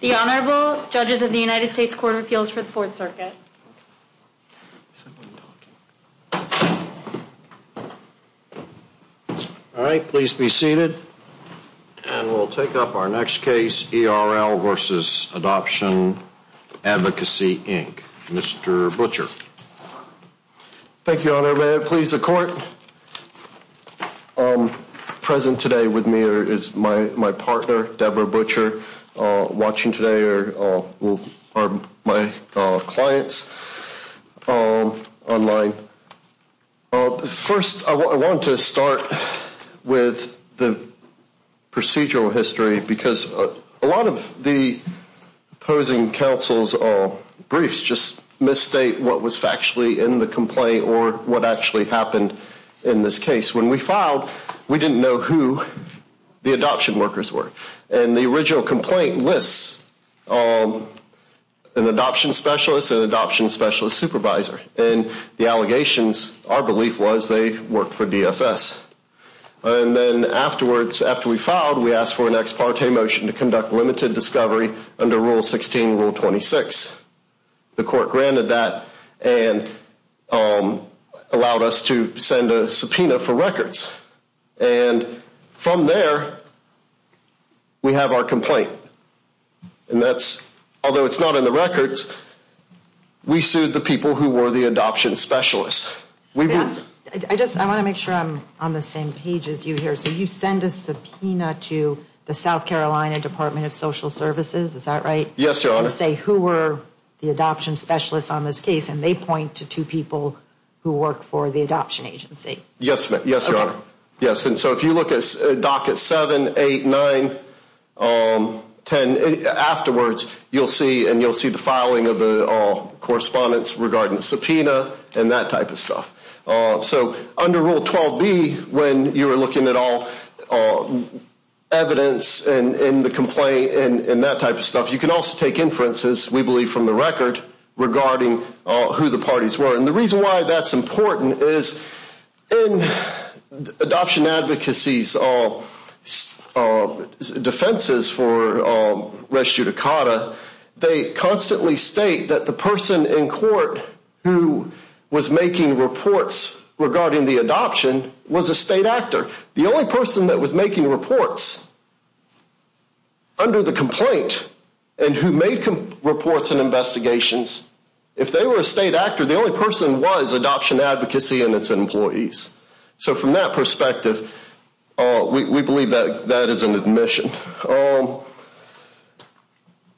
The Honorable Judges of the United States Court of Appeals for the Fourth Circuit. All right, please be seated. And we'll take up our next case, E.R.L. v. Adoption Advocacy, Inc. Mr. Butcher. Thank you, Your Honor. May it please the Court. Present today with me is my partner, Deborah Butcher. Watching today are my clients online. First, I want to start with the procedural history because a lot of the opposing counsel's briefs just misstate what was factually in the complaint or what actually happened in this case. When we filed, we didn't know who the adoption workers were. And the original complaint lists an adoption specialist, an adoption specialist supervisor. And the allegations, our belief was they worked for DSS. And then afterwards, after we filed, we asked for an ex parte motion to conduct limited discovery under Rule 16, Rule 26. The Court granted that and allowed us to send a subpoena for records. And from there, we have our complaint. And that's, although it's not in the records, we sued the people who were the adoption specialists. I want to make sure I'm on the same page as you here. So you send a subpoena to the South Carolina Department of Social Services, is that right? Yes, Your Honor. And then say who were the adoption specialists on this case, and they point to two people who work for the adoption agency. Yes, Your Honor. Okay. Yes, and so if you look at Docket 7, 8, 9, 10, afterwards, you'll see, and you'll see the filing of the correspondence regarding the subpoena and that type of stuff. So under Rule 12b, when you're looking at all evidence in the complaint and that type of stuff, you can also take inferences, we believe, from the record regarding who the parties were. And the reason why that's important is in adoption advocacy's defenses for res judicata, they constantly state that the person in court who was making reports regarding the adoption was a state actor. The only person that was making reports under the complaint and who made reports and investigations, if they were a state actor, the only person was adoption advocacy and its employees. So from that perspective, we believe that that is an admission.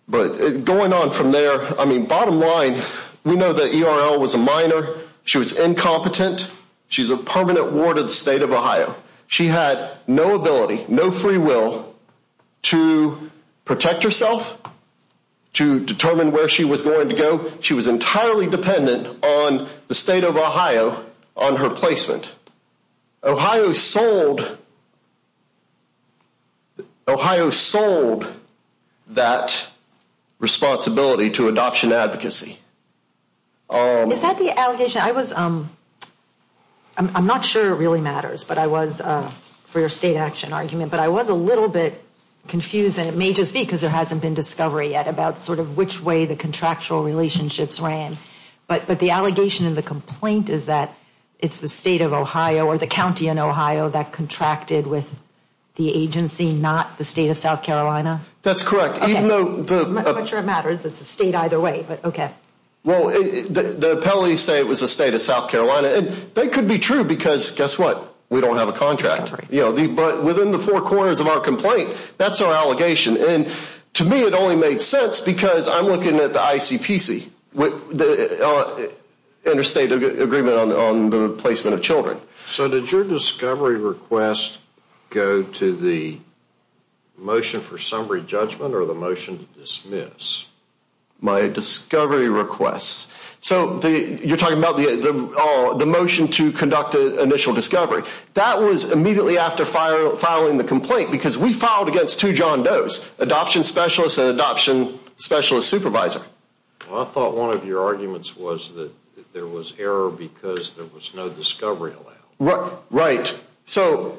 But going on from there, I mean, bottom line, we know that ERL was a minor. She was incompetent. She's a permanent ward of the state of Ohio. She had no ability, no free will to protect herself, to determine where she was going to go. She was entirely dependent on the state of Ohio on her placement. Ohio sold that responsibility to adoption advocacy. Is that the allegation? I'm not sure it really matters for your state action argument, but I was a little bit confused, and it may just be because there hasn't been discovery yet about sort of which way the contractual relationships ran. But the allegation in the complaint is that it's the state of Ohio or the county in Ohio that contracted with the agency, not the state of South Carolina? That's correct. I'm not sure it matters. It's a state either way. Well, the appellees say it was the state of South Carolina, and that could be true because guess what? We don't have a contract. But within the four corners of our complaint, that's our allegation. And to me, it only made sense because I'm looking at the ICPC, Interstate Agreement on the Placement of Children. So did your discovery request go to the motion for summary judgment or the motion to dismiss? My discovery request. So you're talking about the motion to conduct an initial discovery. That was immediately after filing the complaint because we filed against two John Does, adoption specialist and adoption specialist supervisor. Well, I thought one of your arguments was that there was error because there was no discovery allowed. Right. So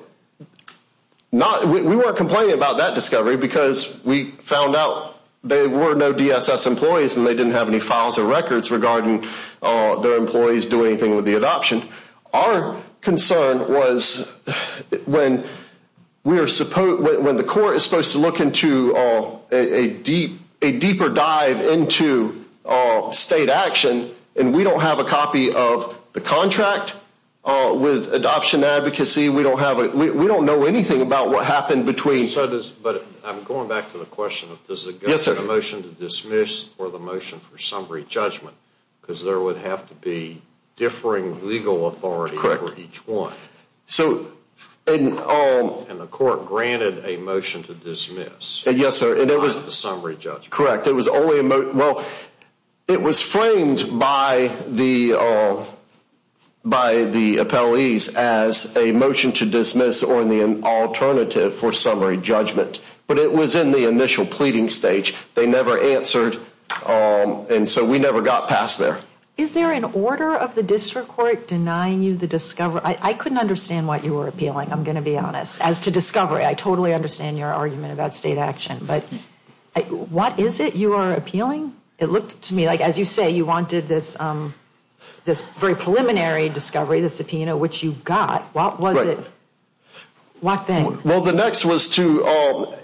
we weren't complaining about that discovery because we found out there were no DSS employees and they didn't have any files or records regarding their employees doing anything with the adoption. Our concern was when the court is supposed to look into a deeper dive into state action and we don't have a copy of the contract with adoption advocacy. We don't know anything about what happened between. But I'm going back to the question of does it go to the motion to dismiss or the motion for summary judgment because there would have to be differing legal authority for each one. Correct. And the court granted a motion to dismiss. Yes, sir. Not the summary judgment. Correct. Well, it was framed by the appellees as a motion to dismiss or the alternative for summary judgment. But it was in the initial pleading stage. They never answered. And so we never got past there. Is there an order of the district court denying you the discovery? I couldn't understand what you were appealing, I'm going to be honest, as to discovery. I totally understand your argument about state action. But what is it you are appealing? It looked to me like, as you say, you wanted this very preliminary discovery, the subpoena, which you got. What was it? What thing? Well, the next was to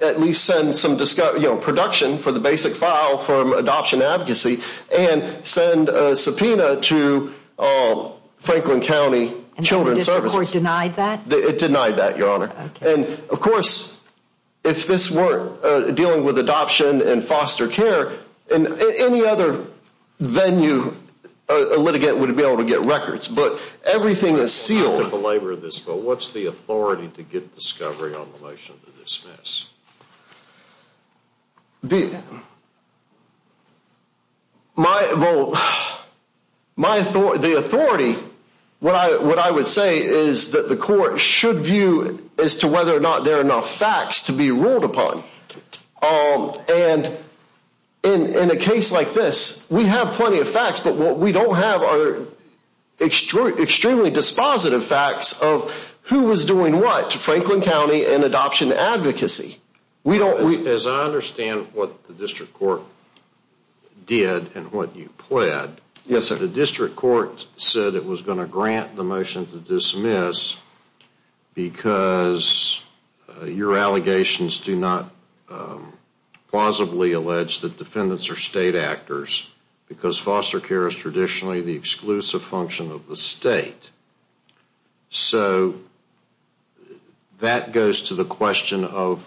at least send some production for the basic file from adoption advocacy and send a subpoena to Franklin County Children's Services. And the district court denied that? It denied that, Your Honor. And, of course, if this were dealing with adoption and foster care, any other venue a litigant would be able to get records. But everything is sealed. What's the authority to get discovery on the motion to dismiss? Well, the authority, what I would say is that the court should view as to whether or not there are enough facts to be ruled upon. And in a case like this, we have plenty of facts, but what we don't have are extremely dispositive facts of who was doing what to Franklin County and adoption advocacy. As I understand what the district court did and what you pled, the district court said it was going to grant the motion to dismiss because your allegations do not plausibly allege that defendants are state actors because foster care is traditionally the exclusive function of the state. So that goes to the question of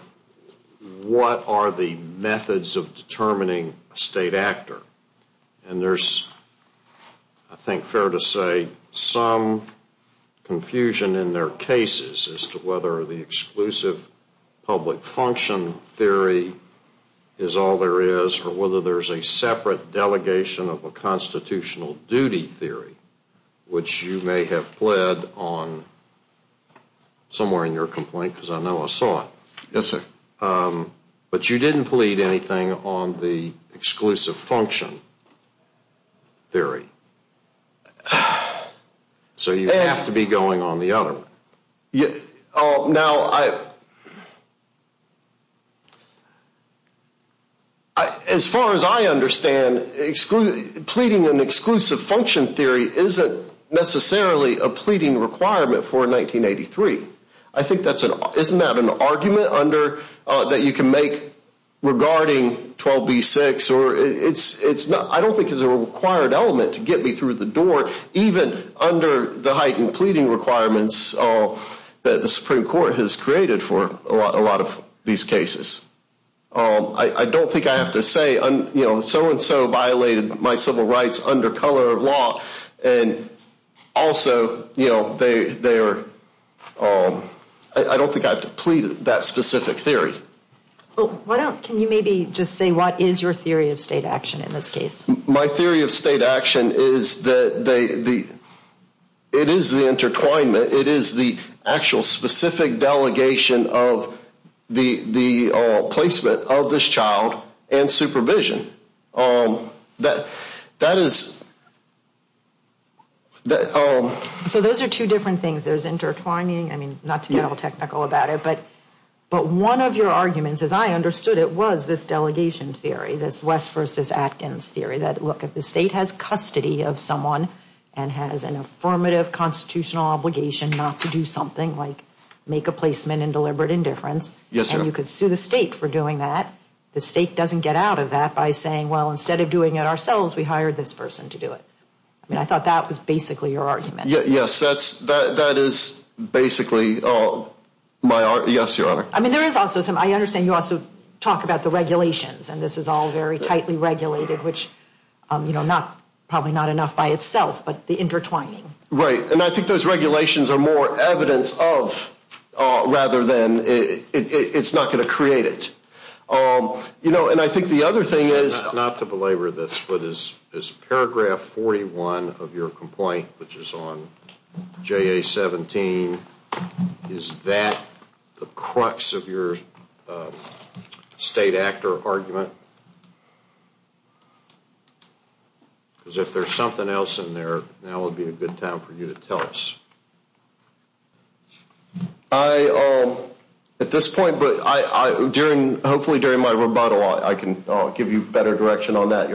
what are the methods of determining a state actor? And there's, I think, fair to say some confusion in their cases as to whether the exclusive public function theory is all there is or whether there's a separate delegation of a constitutional duty theory, which you may have pled on somewhere in your complaint because I know I saw it. Yes, sir. But you didn't plead anything on the exclusive function theory. So you have to be going on the other one. Now, as far as I understand, excluding pleading an exclusive function theory isn't necessarily a pleading requirement for 1983. I think that's an isn't that an argument under that you can make regarding 12 B 6 or it's it's not. I don't think is a required element to get me through the door, even under the heightened pleading requirements that the Supreme Court has created for a lot of these cases. I don't think I have to say, you know, so and so violated my civil rights under color of law. And also, you know, they they are. I don't think I have to plead that specific theory. Well, why don't can you maybe just say what is your theory of state action in this case? My theory of state action is that they the it is the intertwinement. It is the actual specific delegation of the the placement of this child and supervision that that is. So those are two different things. There's intertwining. I mean, not to get all technical about it, but but one of your arguments, as I understood it, was this delegation theory, this West versus Atkins theory that look at the state has custody of someone and has an affirmative constitutional obligation not to do something like make a placement in deliberate indifference. Yes. And you could sue the state for doing that. The state doesn't get out of that by saying, well, instead of doing it ourselves, we hired this person to do it. I mean, I thought that was basically your argument. Yes, that's that. That is basically my. Yes, your honor. I mean, there is also some I understand you also talk about the regulations and this is all very tightly regulated, which, you know, not probably not enough by itself, but the intertwining. Right. And I think those regulations are more evidence of rather than it's not going to create it. You know, and I think the other thing is not to belabor this foot is is paragraph 41 of your complaint, which is on J.A. 17. Is that the crux of your state actor argument? Because if there's something else in there now would be a good time for you to tell us. I at this point, but I during hopefully during my rebuttal, I can give you better direction on that.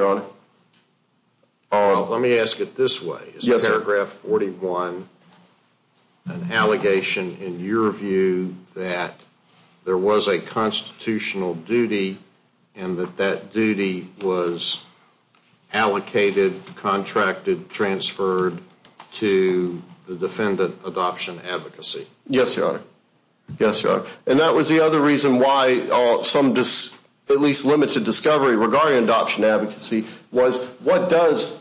Let me ask it this way. Yes. Paragraph 41. An allegation in your view that there was a constitutional duty and that that duty was allocated, contracted, transferred to the defendant adoption advocacy. Yes, your honor. Yes, your honor. And that was the other reason why some at least limited discovery regarding adoption advocacy was. What does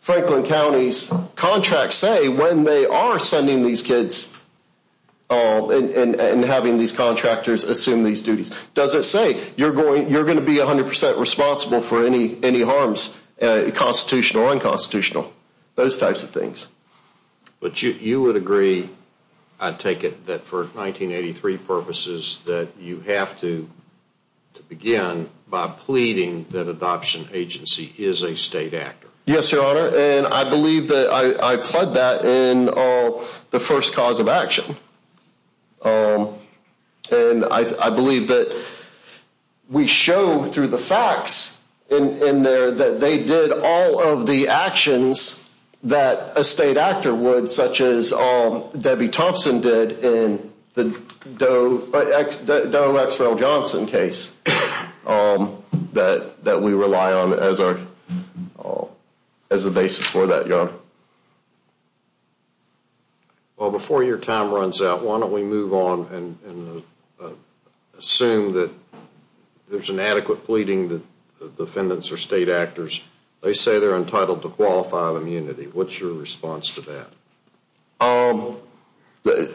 Franklin County's contract say when they are sending these kids and having these contractors assume these duties? Does it say you're going you're going to be 100 percent responsible for any any harms constitutional and constitutional? Those types of things. But you would agree. I take it that for 1983 purposes that you have to begin by pleading that adoption agency is a state actor. Yes, your honor. And I believe that I plug that in the first cause of action. And I believe that we show through the facts in there that they did all of the actions that a state actor would, such as Debbie Thompson did in the Doe, Doe, X, well, Johnson case that that we rely on as our as a basis for that. Yes, your honor. Well, before your time runs out, why don't we move on and assume that there's an adequate pleading that the defendants are state actors? They say they're entitled to qualified immunity. What's your response to that?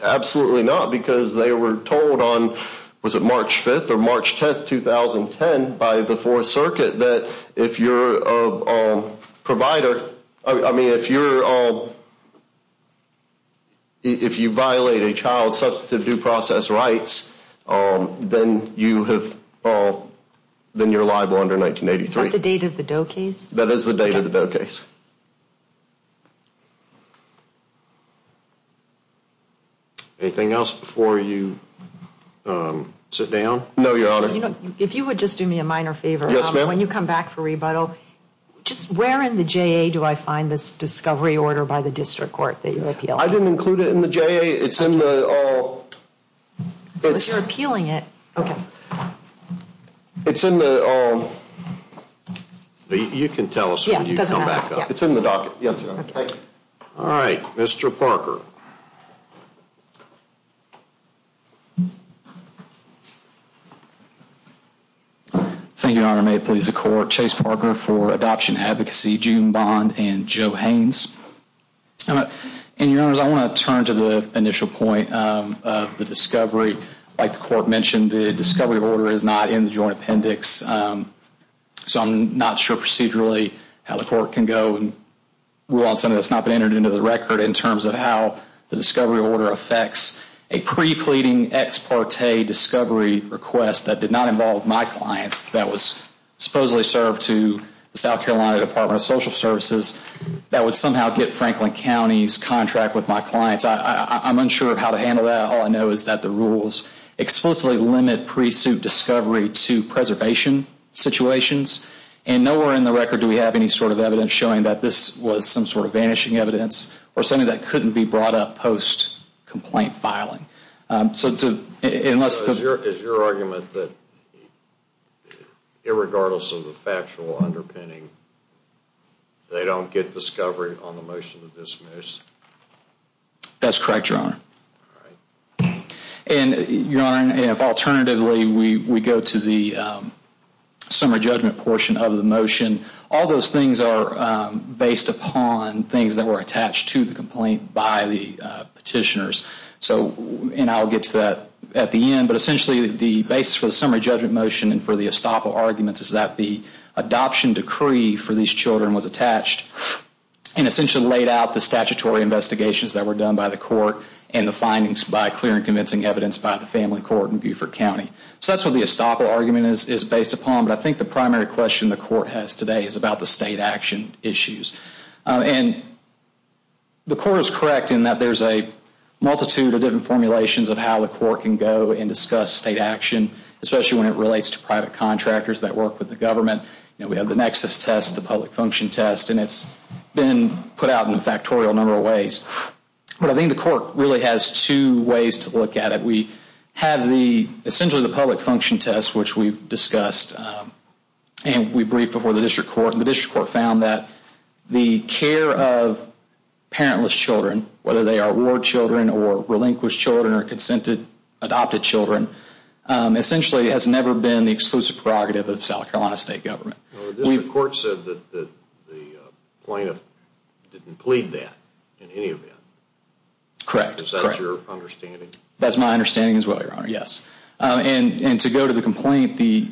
Absolutely not. Because they were told on, was it March 5th or March 10th, 2010, by the 4th Circuit that if you're a provider, I mean, if you're all. If you violate a child's substantive due process rights, then you have all then you're liable under 1983. Is that the date of the Doe case? That is the date of the Doe case. Anything else before you sit down? No, your honor. If you would just do me a minor favor. Yes, ma'am. When you come back for rebuttal, just where in the J.A. do I find this discovery order by the district court that you appeal? I didn't include it in the J.A. It's in the. But you're appealing it. It's in the. You can tell us when you come back. It's in the docket. Yes. All right. Mr. Parker. Thank you, your honor. May it please the court. Chase Parker for Adoption Advocacy, June Bond and Joe Haines. And your honors, I want to turn to the initial point of the discovery. Like the court mentioned, the discovery order is not in the joint appendix. So I'm not sure procedurally how the court can go and rule on something that's not been entered into the record in terms of how the discovery order affects a prepleading ex parte discovery request that did not involve my clients, that was supposedly served to the South Carolina Department of Social Services, that would somehow get Franklin County's contract with my clients. I'm unsure of how to handle that. All I know is that the rules explicitly limit pre-suit discovery to preservation situations. And nowhere in the record do we have any sort of evidence showing that this was some sort of vanishing evidence or something that couldn't be brought up post-complaint filing. Is your argument that irregardless of the factual underpinning, they don't get discovery on the motion to dismiss? That's correct, your honor. And your honor, if alternatively we go to the summary judgment portion of the motion, all those things are based upon things that were attached to the complaint by the petitioners. And I'll get to that at the end, but essentially the basis for the summary judgment motion and for the estoppel arguments is that the adoption decree for these children was attached and essentially laid out the statutory investigations that were done by the court and the findings by clear and convincing evidence by the family court in Beaufort County. So that's what the estoppel argument is based upon, but I think the primary question the court has today is about the state action issues. And the court is correct in that there's a multitude of different formulations of how the court can go and discuss state action, especially when it relates to private contractors that work with the government. We have the nexus test, the public function test, and it's been put out in a factorial number of ways. But I think the court really has two ways to look at it. We have essentially the public function test, which we've discussed, and we briefed before the district court. The district court found that the care of parentless children, whether they are war children or relinquished children or consented adopted children, essentially has never been the exclusive prerogative of South Carolina state government. The district court said that the plaintiff didn't plead that in any event. Correct. Is that your understanding? That's my understanding as well, Your Honor, yes. And to go to the complaint, the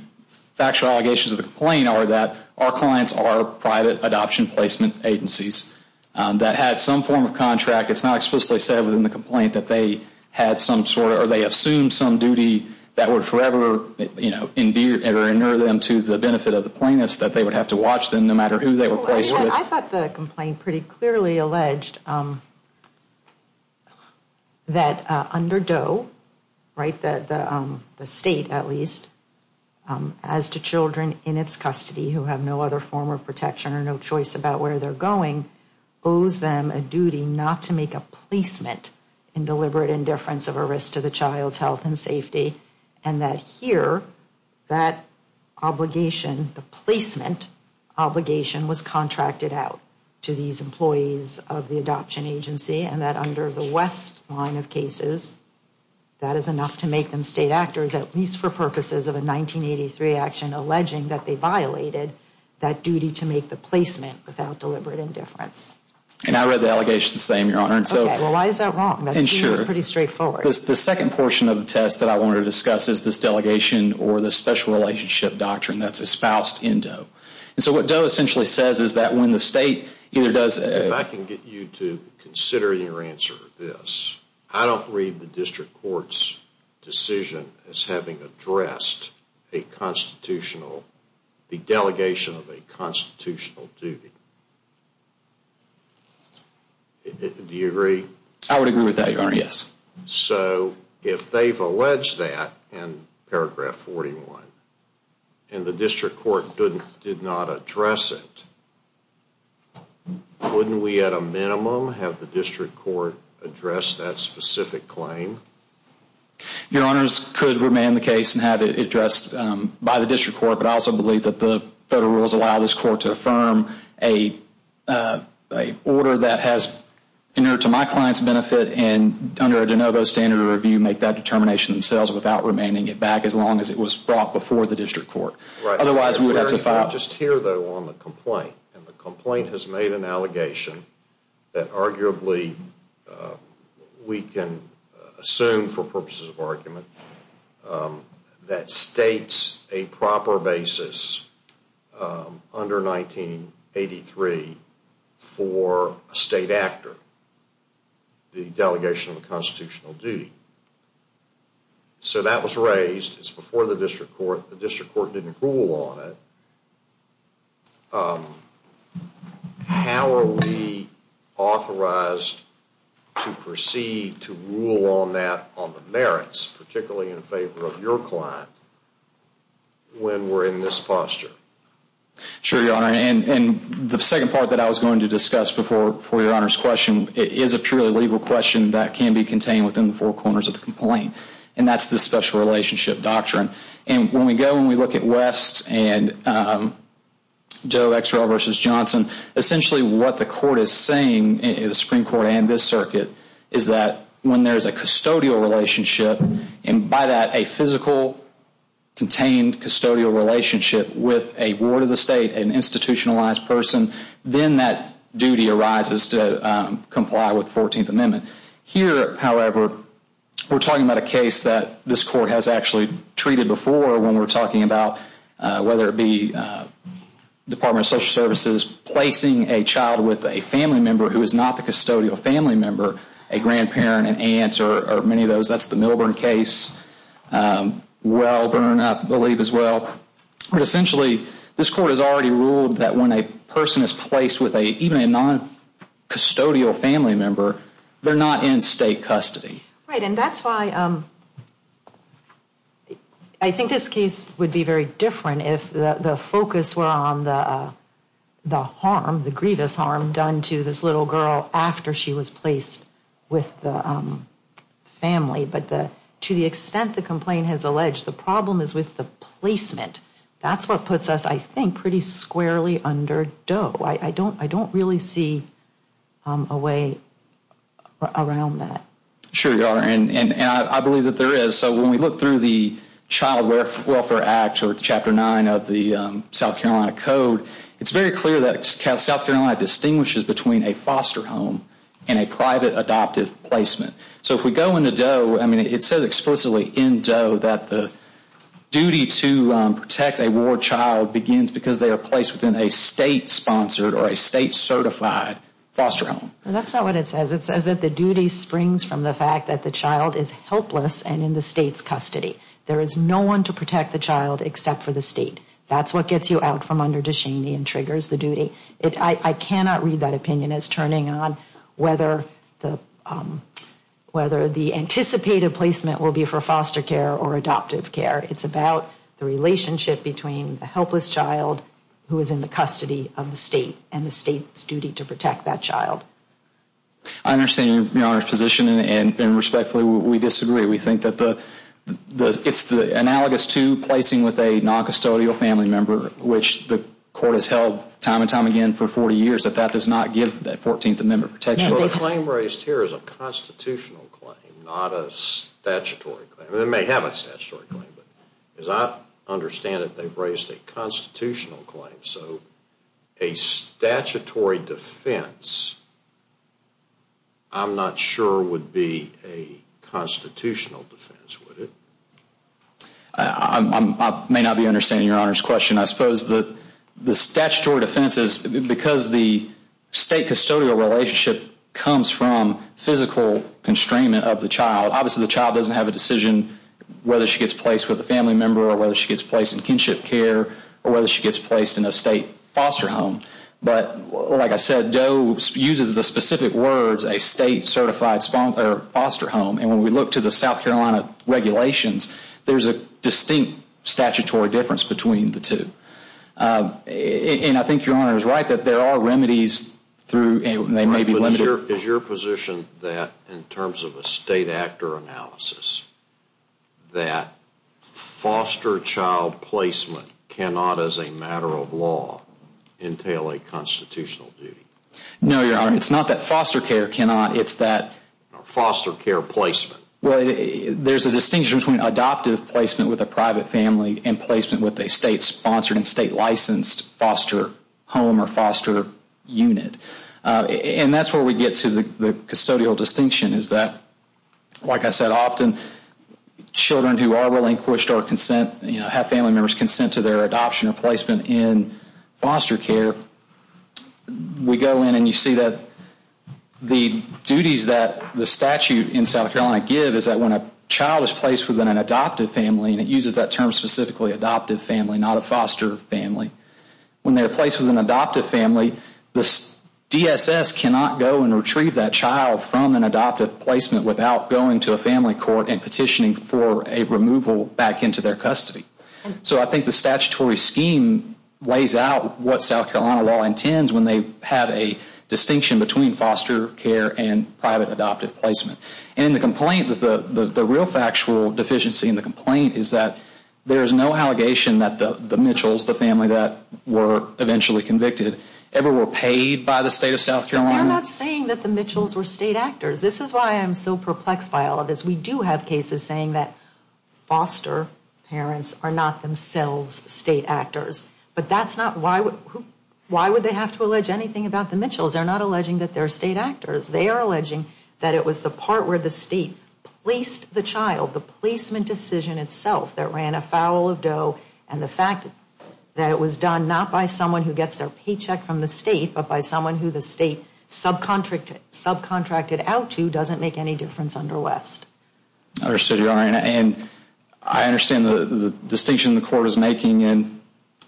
factual allegations of the complaint are that our clients are private adoption placement agencies that had some form of contract. It's not explicitly said within the complaint that they had some sort or they assumed some duty that would forever, you know, endure them to the benefit of the plaintiffs that they would have to watch them no matter who they were placed with. I thought the complaint pretty clearly alleged that under DOE, right, the state at least, as to children in its custody who have no other form of protection or no choice about where they're going, owes them a duty not to make a placement in deliberate indifference of a risk to the child's health and safety, and that here, that obligation, the placement obligation was contracted out to these employees of the adoption agency and that under the West line of cases, that is enough to make them state actors at least for purposes of a 1983 action alleging that they violated that duty to make the placement without deliberate indifference. And I read the allegations the same, Your Honor. Okay, well, why is that wrong? That seems pretty straightforward. The second portion of the test that I wanted to discuss is this delegation or this special relationship doctrine that's espoused in DOE. And so what DOE essentially says is that when the state either does... If I can get you to consider your answer to this, I don't read the district court's decision as having addressed a constitutional, the delegation of a constitutional duty. Do you agree? I would agree with that, Your Honor, yes. So if they've alleged that in paragraph 41 and the district court did not address it, wouldn't we at a minimum have the district court address that specific claim? Your Honors, could remain the case and have it addressed by the district court, but I also believe that the federal rules allow this court to affirm a order that has entered to my client's benefit and under a de novo standard of review make that determination themselves without remaining it back as long as it was brought before the district court. Otherwise, we would have to file... Just here, though, on the complaint, and the complaint has made an allegation that arguably we can assume for purposes of argument that states a proper basis under 1983 for a state actor. The delegation of a constitutional duty. So that was raised. It's before the district court. The district court didn't rule on it. How are we authorized to proceed to rule on that on the merits, particularly in favor of your client, when we're in this posture? Sure, Your Honor. And the second part that I was going to discuss before your Honor's question is a purely legal question that can be contained within the four corners of the complaint, and that's the special relationship doctrine. And when we go and we look at West and Joe Exrell v. Johnson, essentially what the court is saying in the Supreme Court and this circuit is that when there is a custodial relationship, and by that a physical contained custodial relationship with a ward of the state, an institutionalized person, then that duty arises to comply with the 14th Amendment. Here, however, we're talking about a case that this court has actually treated before when we're talking about whether it be Department of Social Services placing a child with a family member who is not the custodial family member, a grandparent, an aunt, or many of those. That's the Milburn case, Welburn I believe as well. Essentially, this court has already ruled that when a person is placed with even a non-custodial family member, they're not in state custody. Right, and that's why I think this case would be very different if the focus were on the harm, the grievous harm done to this little girl after she was placed with the family. But to the extent the complaint has alleged, the problem is with the placement. That's what puts us, I think, pretty squarely under dough. I don't really see a way around that. Sure you are, and I believe that there is. So when we look through the Child Welfare Act or Chapter 9 of the South Carolina Code, it's very clear that South Carolina distinguishes between a foster home and a private adoptive placement. So if we go into dough, it says explicitly in dough that the duty to protect a war child begins because they are placed within a state-sponsored or a state-certified foster home. That's not what it says. It says that the duty springs from the fact that the child is helpless and in the state's custody. There is no one to protect the child except for the state. That's what gets you out from under Ducheney and triggers the duty. I cannot read that opinion as turning on whether the anticipated placement will be for foster care or adoptive care. It's about the relationship between a helpless child who is in the custody of the state and the state's duty to protect that child. I understand your Honor's position, and respectfully, we disagree. We think that it's analogous to placing with a non-custodial family member, which the court has held time and time again for 40 years, that that does not give that 14th Amendment protection. The claim raised here is a constitutional claim, not a statutory claim. It may have a statutory claim, but as I understand it, they've raised a constitutional claim. A statutory defense, I'm not sure, would be a constitutional defense, would it? I may not be understanding your Honor's question. I suppose the statutory defense is because the state-custodial relationship comes from physical constrainment of the child. Obviously, the child doesn't have a decision whether she gets placed with a family member or whether she gets placed in kinship care or whether she gets placed in a state foster home. But like I said, DOE uses the specific words, a state-certified foster home, and when we look to the South Carolina regulations, there's a distinct statutory difference between the two. And I think your Honor is right that there are remedies through, and they may be limited. Is your position that, in terms of a state actor analysis, that foster child placement cannot, as a matter of law, entail a constitutional duty? No, your Honor, it's not that foster care cannot, it's that Foster care placement. Well, there's a distinction between adoptive placement with a private family and placement with a state-sponsored and state-licensed foster home or foster unit. And that's where we get to the custodial distinction is that, like I said, often children who are relinquished or have family members consent to their adoption or placement in foster care, we go in and you see that the duties that the statute in South Carolina give is that when a child is placed within an adoptive family, and it uses that term specifically, adoptive family, not a foster family, when they're placed with an adoptive family, the DSS cannot go and retrieve that child from an adoptive placement without going to a family court and petitioning for a removal back into their custody. So I think the statutory scheme lays out what South Carolina law intends when they have a distinction between foster care and private adoptive placement. And the complaint, the real factual deficiency in the complaint is that there is no allegation that the Mitchells, the family that were eventually convicted, ever were paid by the state of South Carolina. They're not saying that the Mitchells were state actors. This is why I'm so perplexed by all of this. We do have cases saying that foster parents are not themselves state actors. But that's not why would they have to allege anything about the Mitchells. They're not alleging that they're state actors. They are alleging that it was the part where the state placed the child, but the placement decision itself that ran afoul of Doe and the fact that it was done not by someone who gets their paycheck from the state, but by someone who the state subcontracted out to doesn't make any difference under West. I understand the distinction the court is making,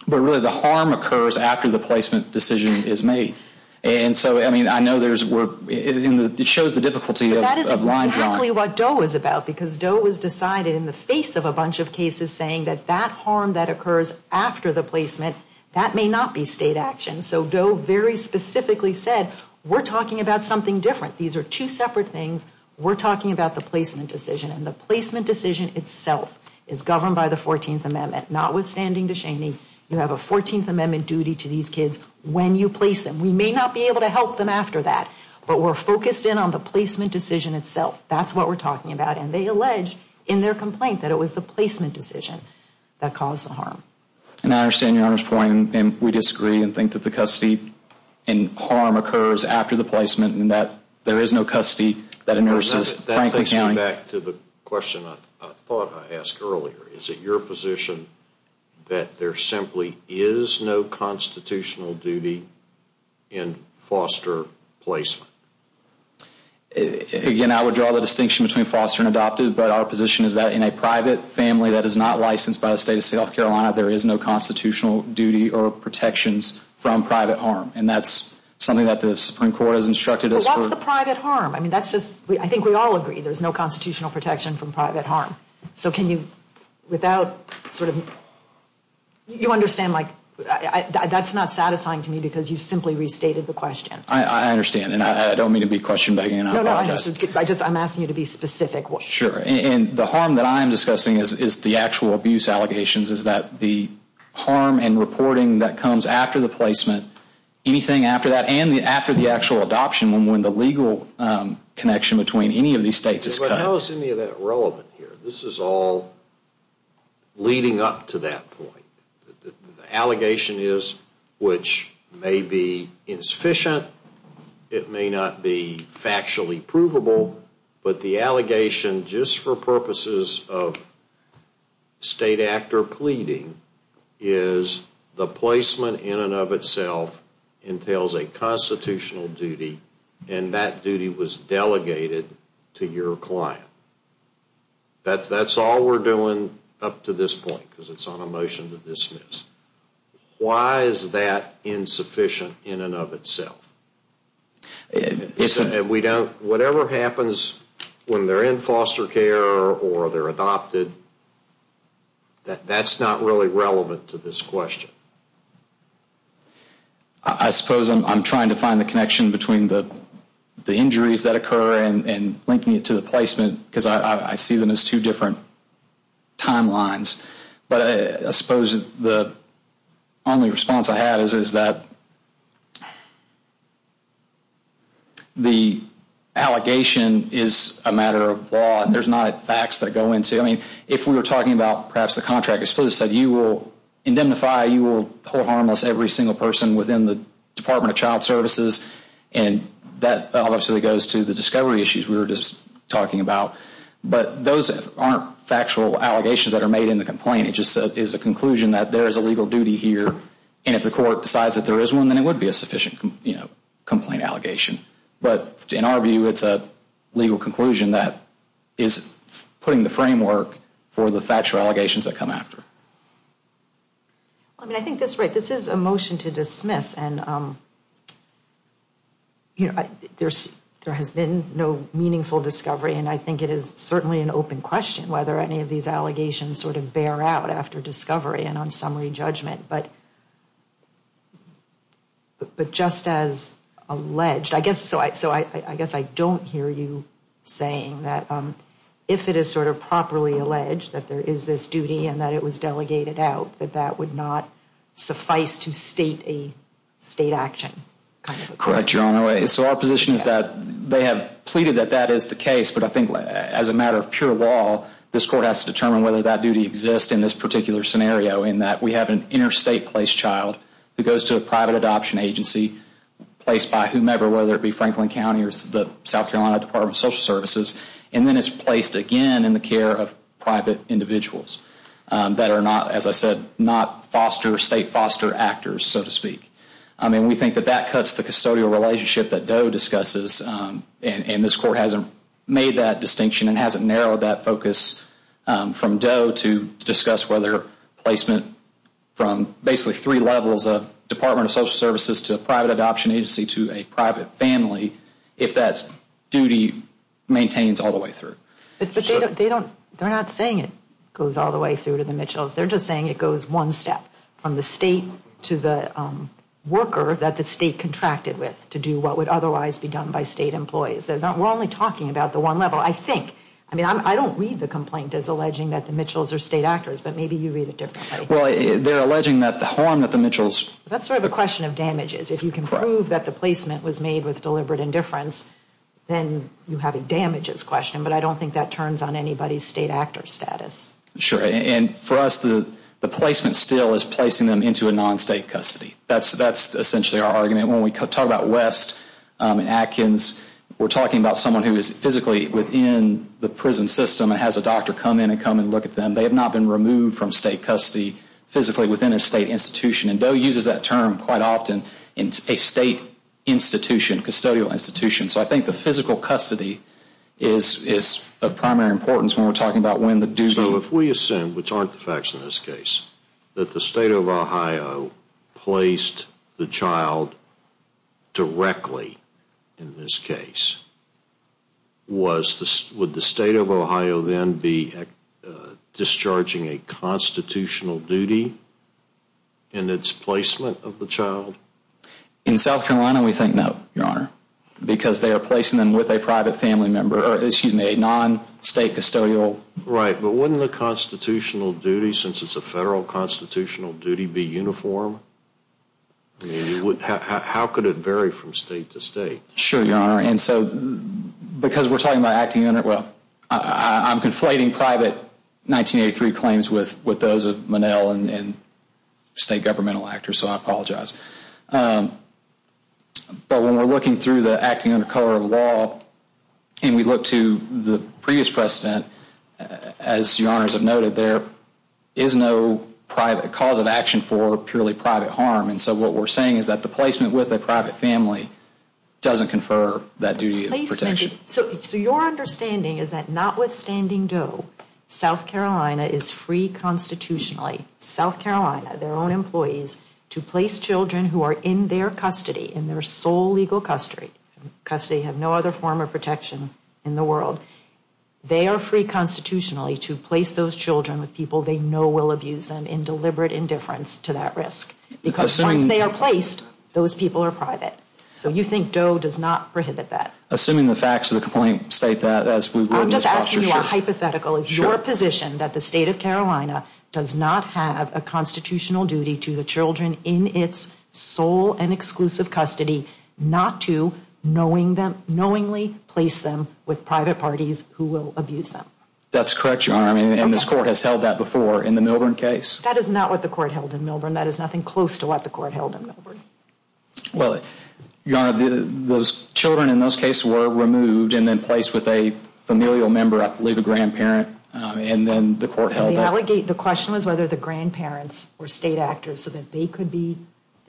but really the harm occurs after the placement decision is made. And so, I mean, I know it shows the difficulty of line drawing. That's exactly what Doe is about because Doe was decided in the face of a bunch of cases saying that that harm that occurs after the placement, that may not be state action. So Doe very specifically said, we're talking about something different. These are two separate things. We're talking about the placement decision, and the placement decision itself is governed by the 14th Amendment. Notwithstanding DeShaney, you have a 14th Amendment duty to these kids when you place them. We may not be able to help them after that, but we're focused in on the placement decision itself. That's what we're talking about, and they allege in their complaint that it was the placement decision that caused the harm. And I understand Your Honor's point, and we disagree and think that the custody and harm occurs after the placement and that there is no custody that immerses Franklin County. That takes me back to the question I thought I asked earlier. Is it your position that there simply is no constitutional duty in foster placement? Again, I would draw the distinction between foster and adopted, but our position is that in a private family that is not licensed by the State of South Carolina, there is no constitutional duty or protections from private harm, and that's something that the Supreme Court has instructed us for. But what's the private harm? I mean, that's just, I think we all agree there's no constitutional protection from private harm. So can you, without sort of, you understand like, that's not satisfying to me because you simply restated the question. I understand, and I don't mean to be question begging. No, no, I'm asking you to be specific. Sure, and the harm that I'm discussing is the actual abuse allegations, is that the harm and reporting that comes after the placement, anything after that and after the actual adoption when the legal connection between any of these states is cut. How is any of that relevant here? This is all leading up to that point. The allegation is, which may be insufficient, it may not be factually provable, but the allegation, just for purposes of state actor pleading, is the placement in and of itself entails a constitutional duty, and that duty was delegated to your client. That's all we're doing up to this point because it's on a motion to dismiss. Why is that insufficient in and of itself? Whatever happens when they're in foster care or they're adopted, that's not really relevant to this question. I suppose I'm trying to find the connection between the injuries that occur and linking it to the placement because I see them as two different timelines. But I suppose the only response I have is that the allegation is a matter of law and there's not facts that go into it. I mean, if we were talking about perhaps the contract, we supposedly said you will indemnify, you will hold harmless every single person within the Department of Child Services, and that obviously goes to the discovery issues we were just talking about. But those aren't factual allegations that are made in the complaint. It just is a conclusion that there is a legal duty here, and if the court decides that there is one, then it would be a sufficient complaint allegation. But in our view, it's a legal conclusion that is putting the framework for the factual allegations that come after. I mean, I think that's right. This is a motion to dismiss, and there has been no meaningful discovery, and I think it is certainly an open question whether any of these allegations sort of bear out after discovery and on summary judgment. But just as alleged, I guess I don't hear you saying that if it is sort of properly alleged that there is this duty and that it was delegated out, that that would not suffice to state a state action. Correct, Your Honor. So our position is that they have pleaded that that is the case, but I think as a matter of pure law, this court has to determine whether that duty exists in this particular scenario in that we have an interstate placed child who goes to a private adoption agency placed by whomever, whether it be Franklin County or the South Carolina Department of Social Services, and then it's placed again in the care of private individuals that are not, as I said, not state foster actors, so to speak. I mean, we think that that cuts the custodial relationship that Doe discusses, and this court hasn't made that distinction and hasn't narrowed that focus from Doe to discuss whether placement from basically three levels of Department of Social Services to a private adoption agency to a private family, if that duty maintains all the way through. But they don't, they're not saying it goes all the way through to the Mitchells. They're just saying it goes one step from the state to the worker that the state contracted with to do what would otherwise be done by state employees. We're only talking about the one level, I think. I mean, I don't read the complaint as alleging that the Mitchells are state actors, but maybe you read it differently. Well, they're alleging that the harm that the Mitchells. That's sort of a question of damages. If you can prove that the placement was made with deliberate indifference, then you have a damages question, but I don't think that turns on anybody's state actor status. Sure, and for us, the placement still is placing them into a non-state custody. That's essentially our argument. When we talk about West and Atkins, we're talking about someone who is physically within the prison system and has a doctor come in and come and look at them. They have not been removed from state custody physically within a state institution, and DOE uses that term quite often in a state institution, custodial institution. So I think the physical custody is of primary importance when we're talking about when the duty. So if we assume, which aren't the facts in this case, that the state of Ohio placed the child directly in this case, would the state of Ohio then be discharging a constitutional duty in its placement of the child? In South Carolina, we think no, Your Honor, because they are placing them with a private family member, or excuse me, a non-state custodial. Right, but wouldn't the constitutional duty, since it's a federal constitutional duty, be uniform? How could it vary from state to state? Sure, Your Honor, and so because we're talking about acting under, well, I'm conflating private 1983 claims with those of Monell and state governmental actors, so I apologize. But when we're looking through the acting under cover of law, and we look to the previous precedent, as Your Honors have noted, there is no private cause of action for purely private harm, and so what we're saying is that the placement with a private family doesn't confer that duty of protection. So your understanding is that notwithstanding Doe, South Carolina is free constitutionally, South Carolina, their own employees, to place children who are in their custody, in their sole legal custody, custody, have no other form of protection in the world, they are free constitutionally to place those children with people they know will abuse them in deliberate indifference to that risk, because once they are placed, those people are private. So you think Doe does not prohibit that? Assuming the facts of the complaint state that. I'm just asking you a hypothetical. Is your position that the state of Carolina does not have a constitutional duty to the children in its sole and exclusive custody, not to knowingly place them with private parties who will abuse them? That's correct, Your Honor, and this court has held that before in the Milburn case. That is not what the court held in Milburn. That is nothing close to what the court held in Milburn. Well, Your Honor, those children in those cases were removed and then placed with a familial member, I believe a grandparent, and then the court held that. The question was whether the grandparents were state actors so that the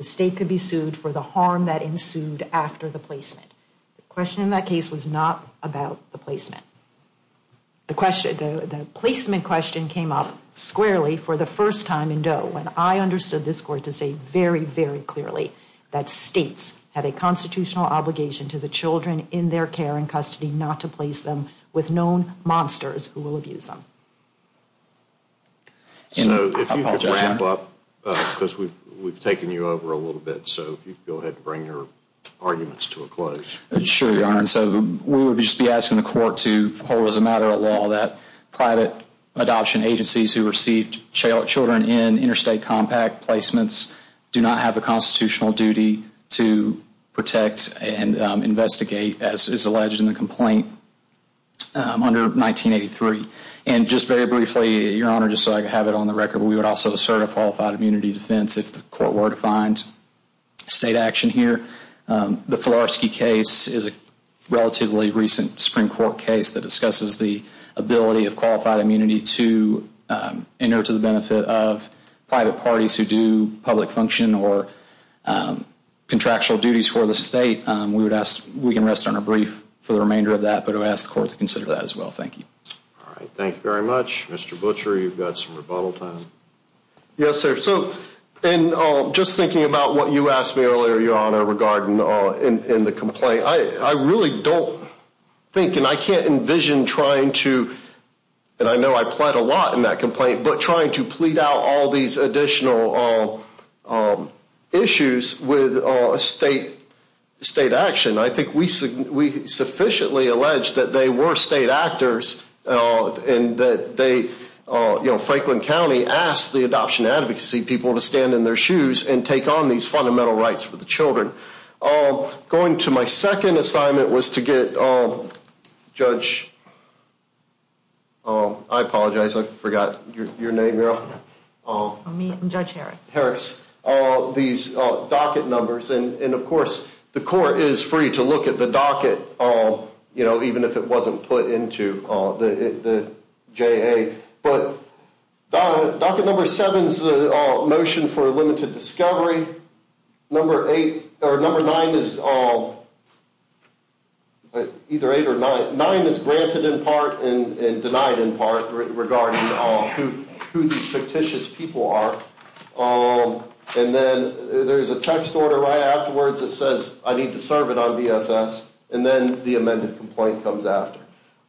state could be sued for the harm that ensued after the placement. The question in that case was not about the placement. The placement question came up squarely for the first time in Doe when I understood this court to say very, very clearly that states have a constitutional obligation to the children in their care and custody not to place them with known monsters who will abuse them. So if you could jump up, because we've taken you over a little bit, so if you could go ahead and bring your arguments to a close. Sure, Your Honor. So we would just be asking the court to hold as a matter of law that private adoption agencies who received children in interstate compact placements do not have a constitutional duty to protect and investigate, as is alleged in the complaint under 1983. And just very briefly, Your Honor, just so I could have it on the record, we would also assert a qualified immunity defense if the court were to find state action here. The Filarski case is a relatively recent Supreme Court case that discusses the ability of qualified immunity to enter to the benefit of private parties who do public function or contractual duties for the state. We can rest on a brief for the remainder of that, but I would ask the court to consider that as well. Thank you. All right. Thank you very much. Mr. Butcher, you've got some rebuttal time. Yes, sir. Just thinking about what you asked me earlier, Your Honor, regarding in the complaint, I really don't think and I can't envision trying to, and I know I plead a lot in that complaint, but trying to plead out all these additional issues with state action. I think we sufficiently allege that they were state actors and that Franklin County asked the adoption advocacy people to stand in their shoes and take on these fundamental rights for the children. Going to my second assignment was to get Judge, I apologize, I forgot your name, Your Honor. Me? I'm Judge Harris. Harris. These docket numbers and, of course, the court is free to look at the docket, even if it wasn't put into the JA. But docket number seven is the motion for limited discovery. Number eight or number nine is either eight or nine. Nine is granted in part and denied in part regarding who these fictitious people are. And then there's a text order right afterwards that says I need to serve it on BSS. And then the amended complaint comes after.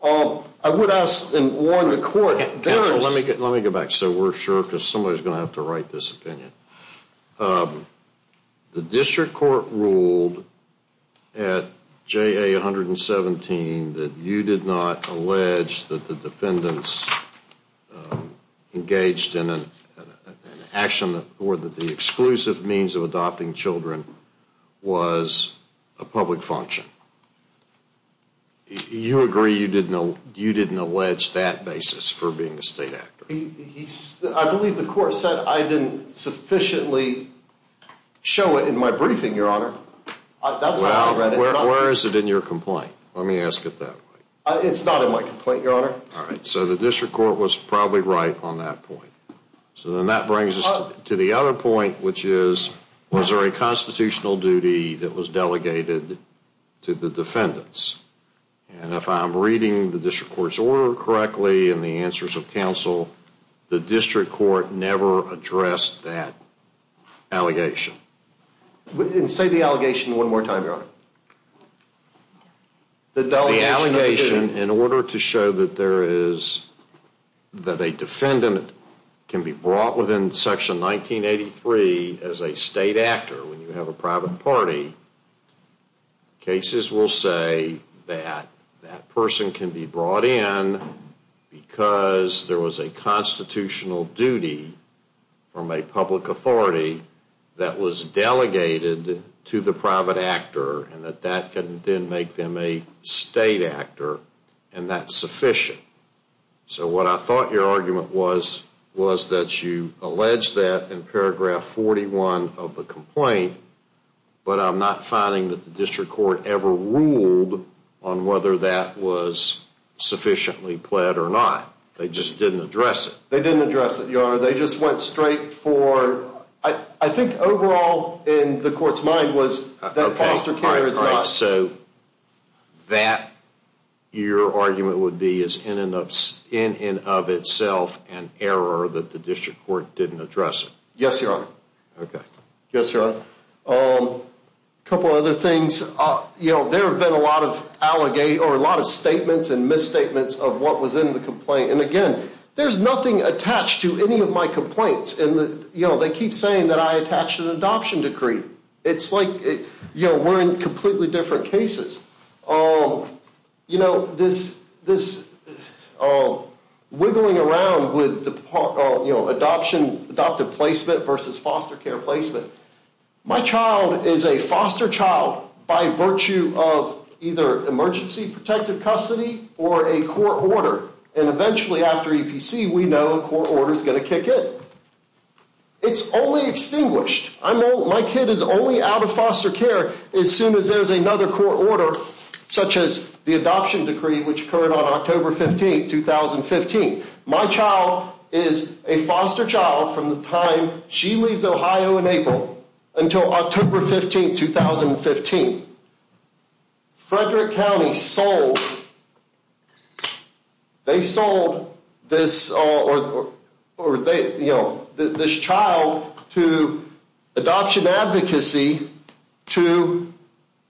I would ask and warn the court. Counsel, let me go back so we're sure because somebody's going to have to write this opinion. The district court ruled at JA 117 that you did not allege that the defendants engaged in an action or that the exclusive means of adopting children was a public function. You agree you didn't allege that basis for being a state actor? I believe the court said I didn't sufficiently show it in my briefing, Your Honor. Well, where is it in your complaint? Let me ask it that way. It's not in my complaint, Your Honor. All right, so the district court was probably right on that point. So then that brings us to the other point, which is was there a constitutional duty that was delegated to the defendants? And if I'm reading the district court's order correctly and the answers of counsel, the district court never addressed that allegation. Say the allegation one more time, Your Honor. The allegation in order to show that a defendant can be brought within Section 1983 as a state actor when you have a private party, cases will say that that person can be brought in because there was a constitutional duty from a public authority that was delegated to the private actor and that that can then make them a state actor and that's sufficient. So what I thought your argument was was that you allege that in paragraph 41 of the complaint, but I'm not finding that the district court ever ruled on whether that was sufficiently pled or not. They just didn't address it. They didn't address it, Your Honor. They just went straight for, I think overall in the court's mind was that foster care is not. So that your argument would be is in and of itself an error that the district court didn't address it. Yes, Your Honor. Okay. Yes, Your Honor. A couple of other things. There have been a lot of statements and misstatements of what was in the complaint. And again, there's nothing attached to any of my complaints. And, you know, they keep saying that I attached an adoption decree. It's like, you know, we're in completely different cases. You know, this wiggling around with adoption, adoptive placement versus foster care placement. My child is a foster child by virtue of either emergency protected custody or a court order. And eventually after EPC, we know a court order is going to kick in. It's only extinguished. My kid is only out of foster care as soon as there's another court order, such as the adoption decree, which occurred on October 15, 2015. My child is a foster child from the time she leaves Ohio in April until October 15, 2015. Frederick County sold this child to adoption advocacy to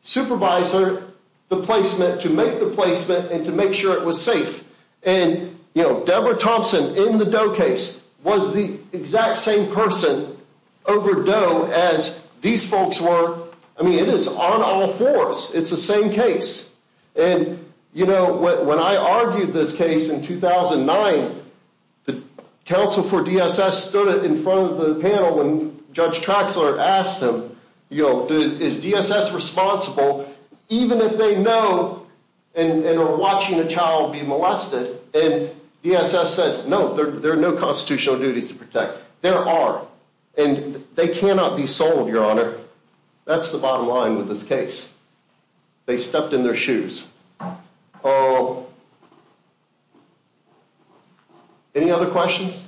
supervisor the placement, to make the placement and to make sure it was safe. And, you know, Deborah Thompson in the Doe case was the exact same person over Doe as these folks were. I mean, it is on all fours. It's the same case. And, you know, when I argued this case in 2009, the counsel for DSS stood in front of the panel when Judge Traxler asked him, you know, is DSS responsible? Even if they know and are watching a child be molested, and DSS said, no, there are no constitutional duties to protect. There are. And they cannot be sold, Your Honor. That's the bottom line with this case. They stepped in their shoes. Any other questions?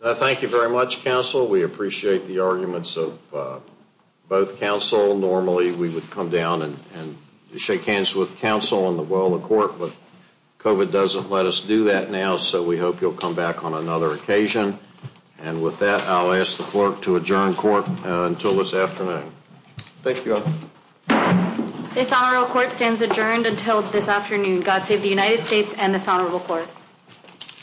Thank you very much, counsel. We appreciate the arguments of both counsel. Normally, we would come down and shake hands with counsel in the well of court. But COVID doesn't let us do that now, so we hope you'll come back on another occasion. And with that, I'll ask the clerk to adjourn court until this afternoon. Thank you, Your Honor. This honorable court stands adjourned until this afternoon. God save the United States and this honorable court.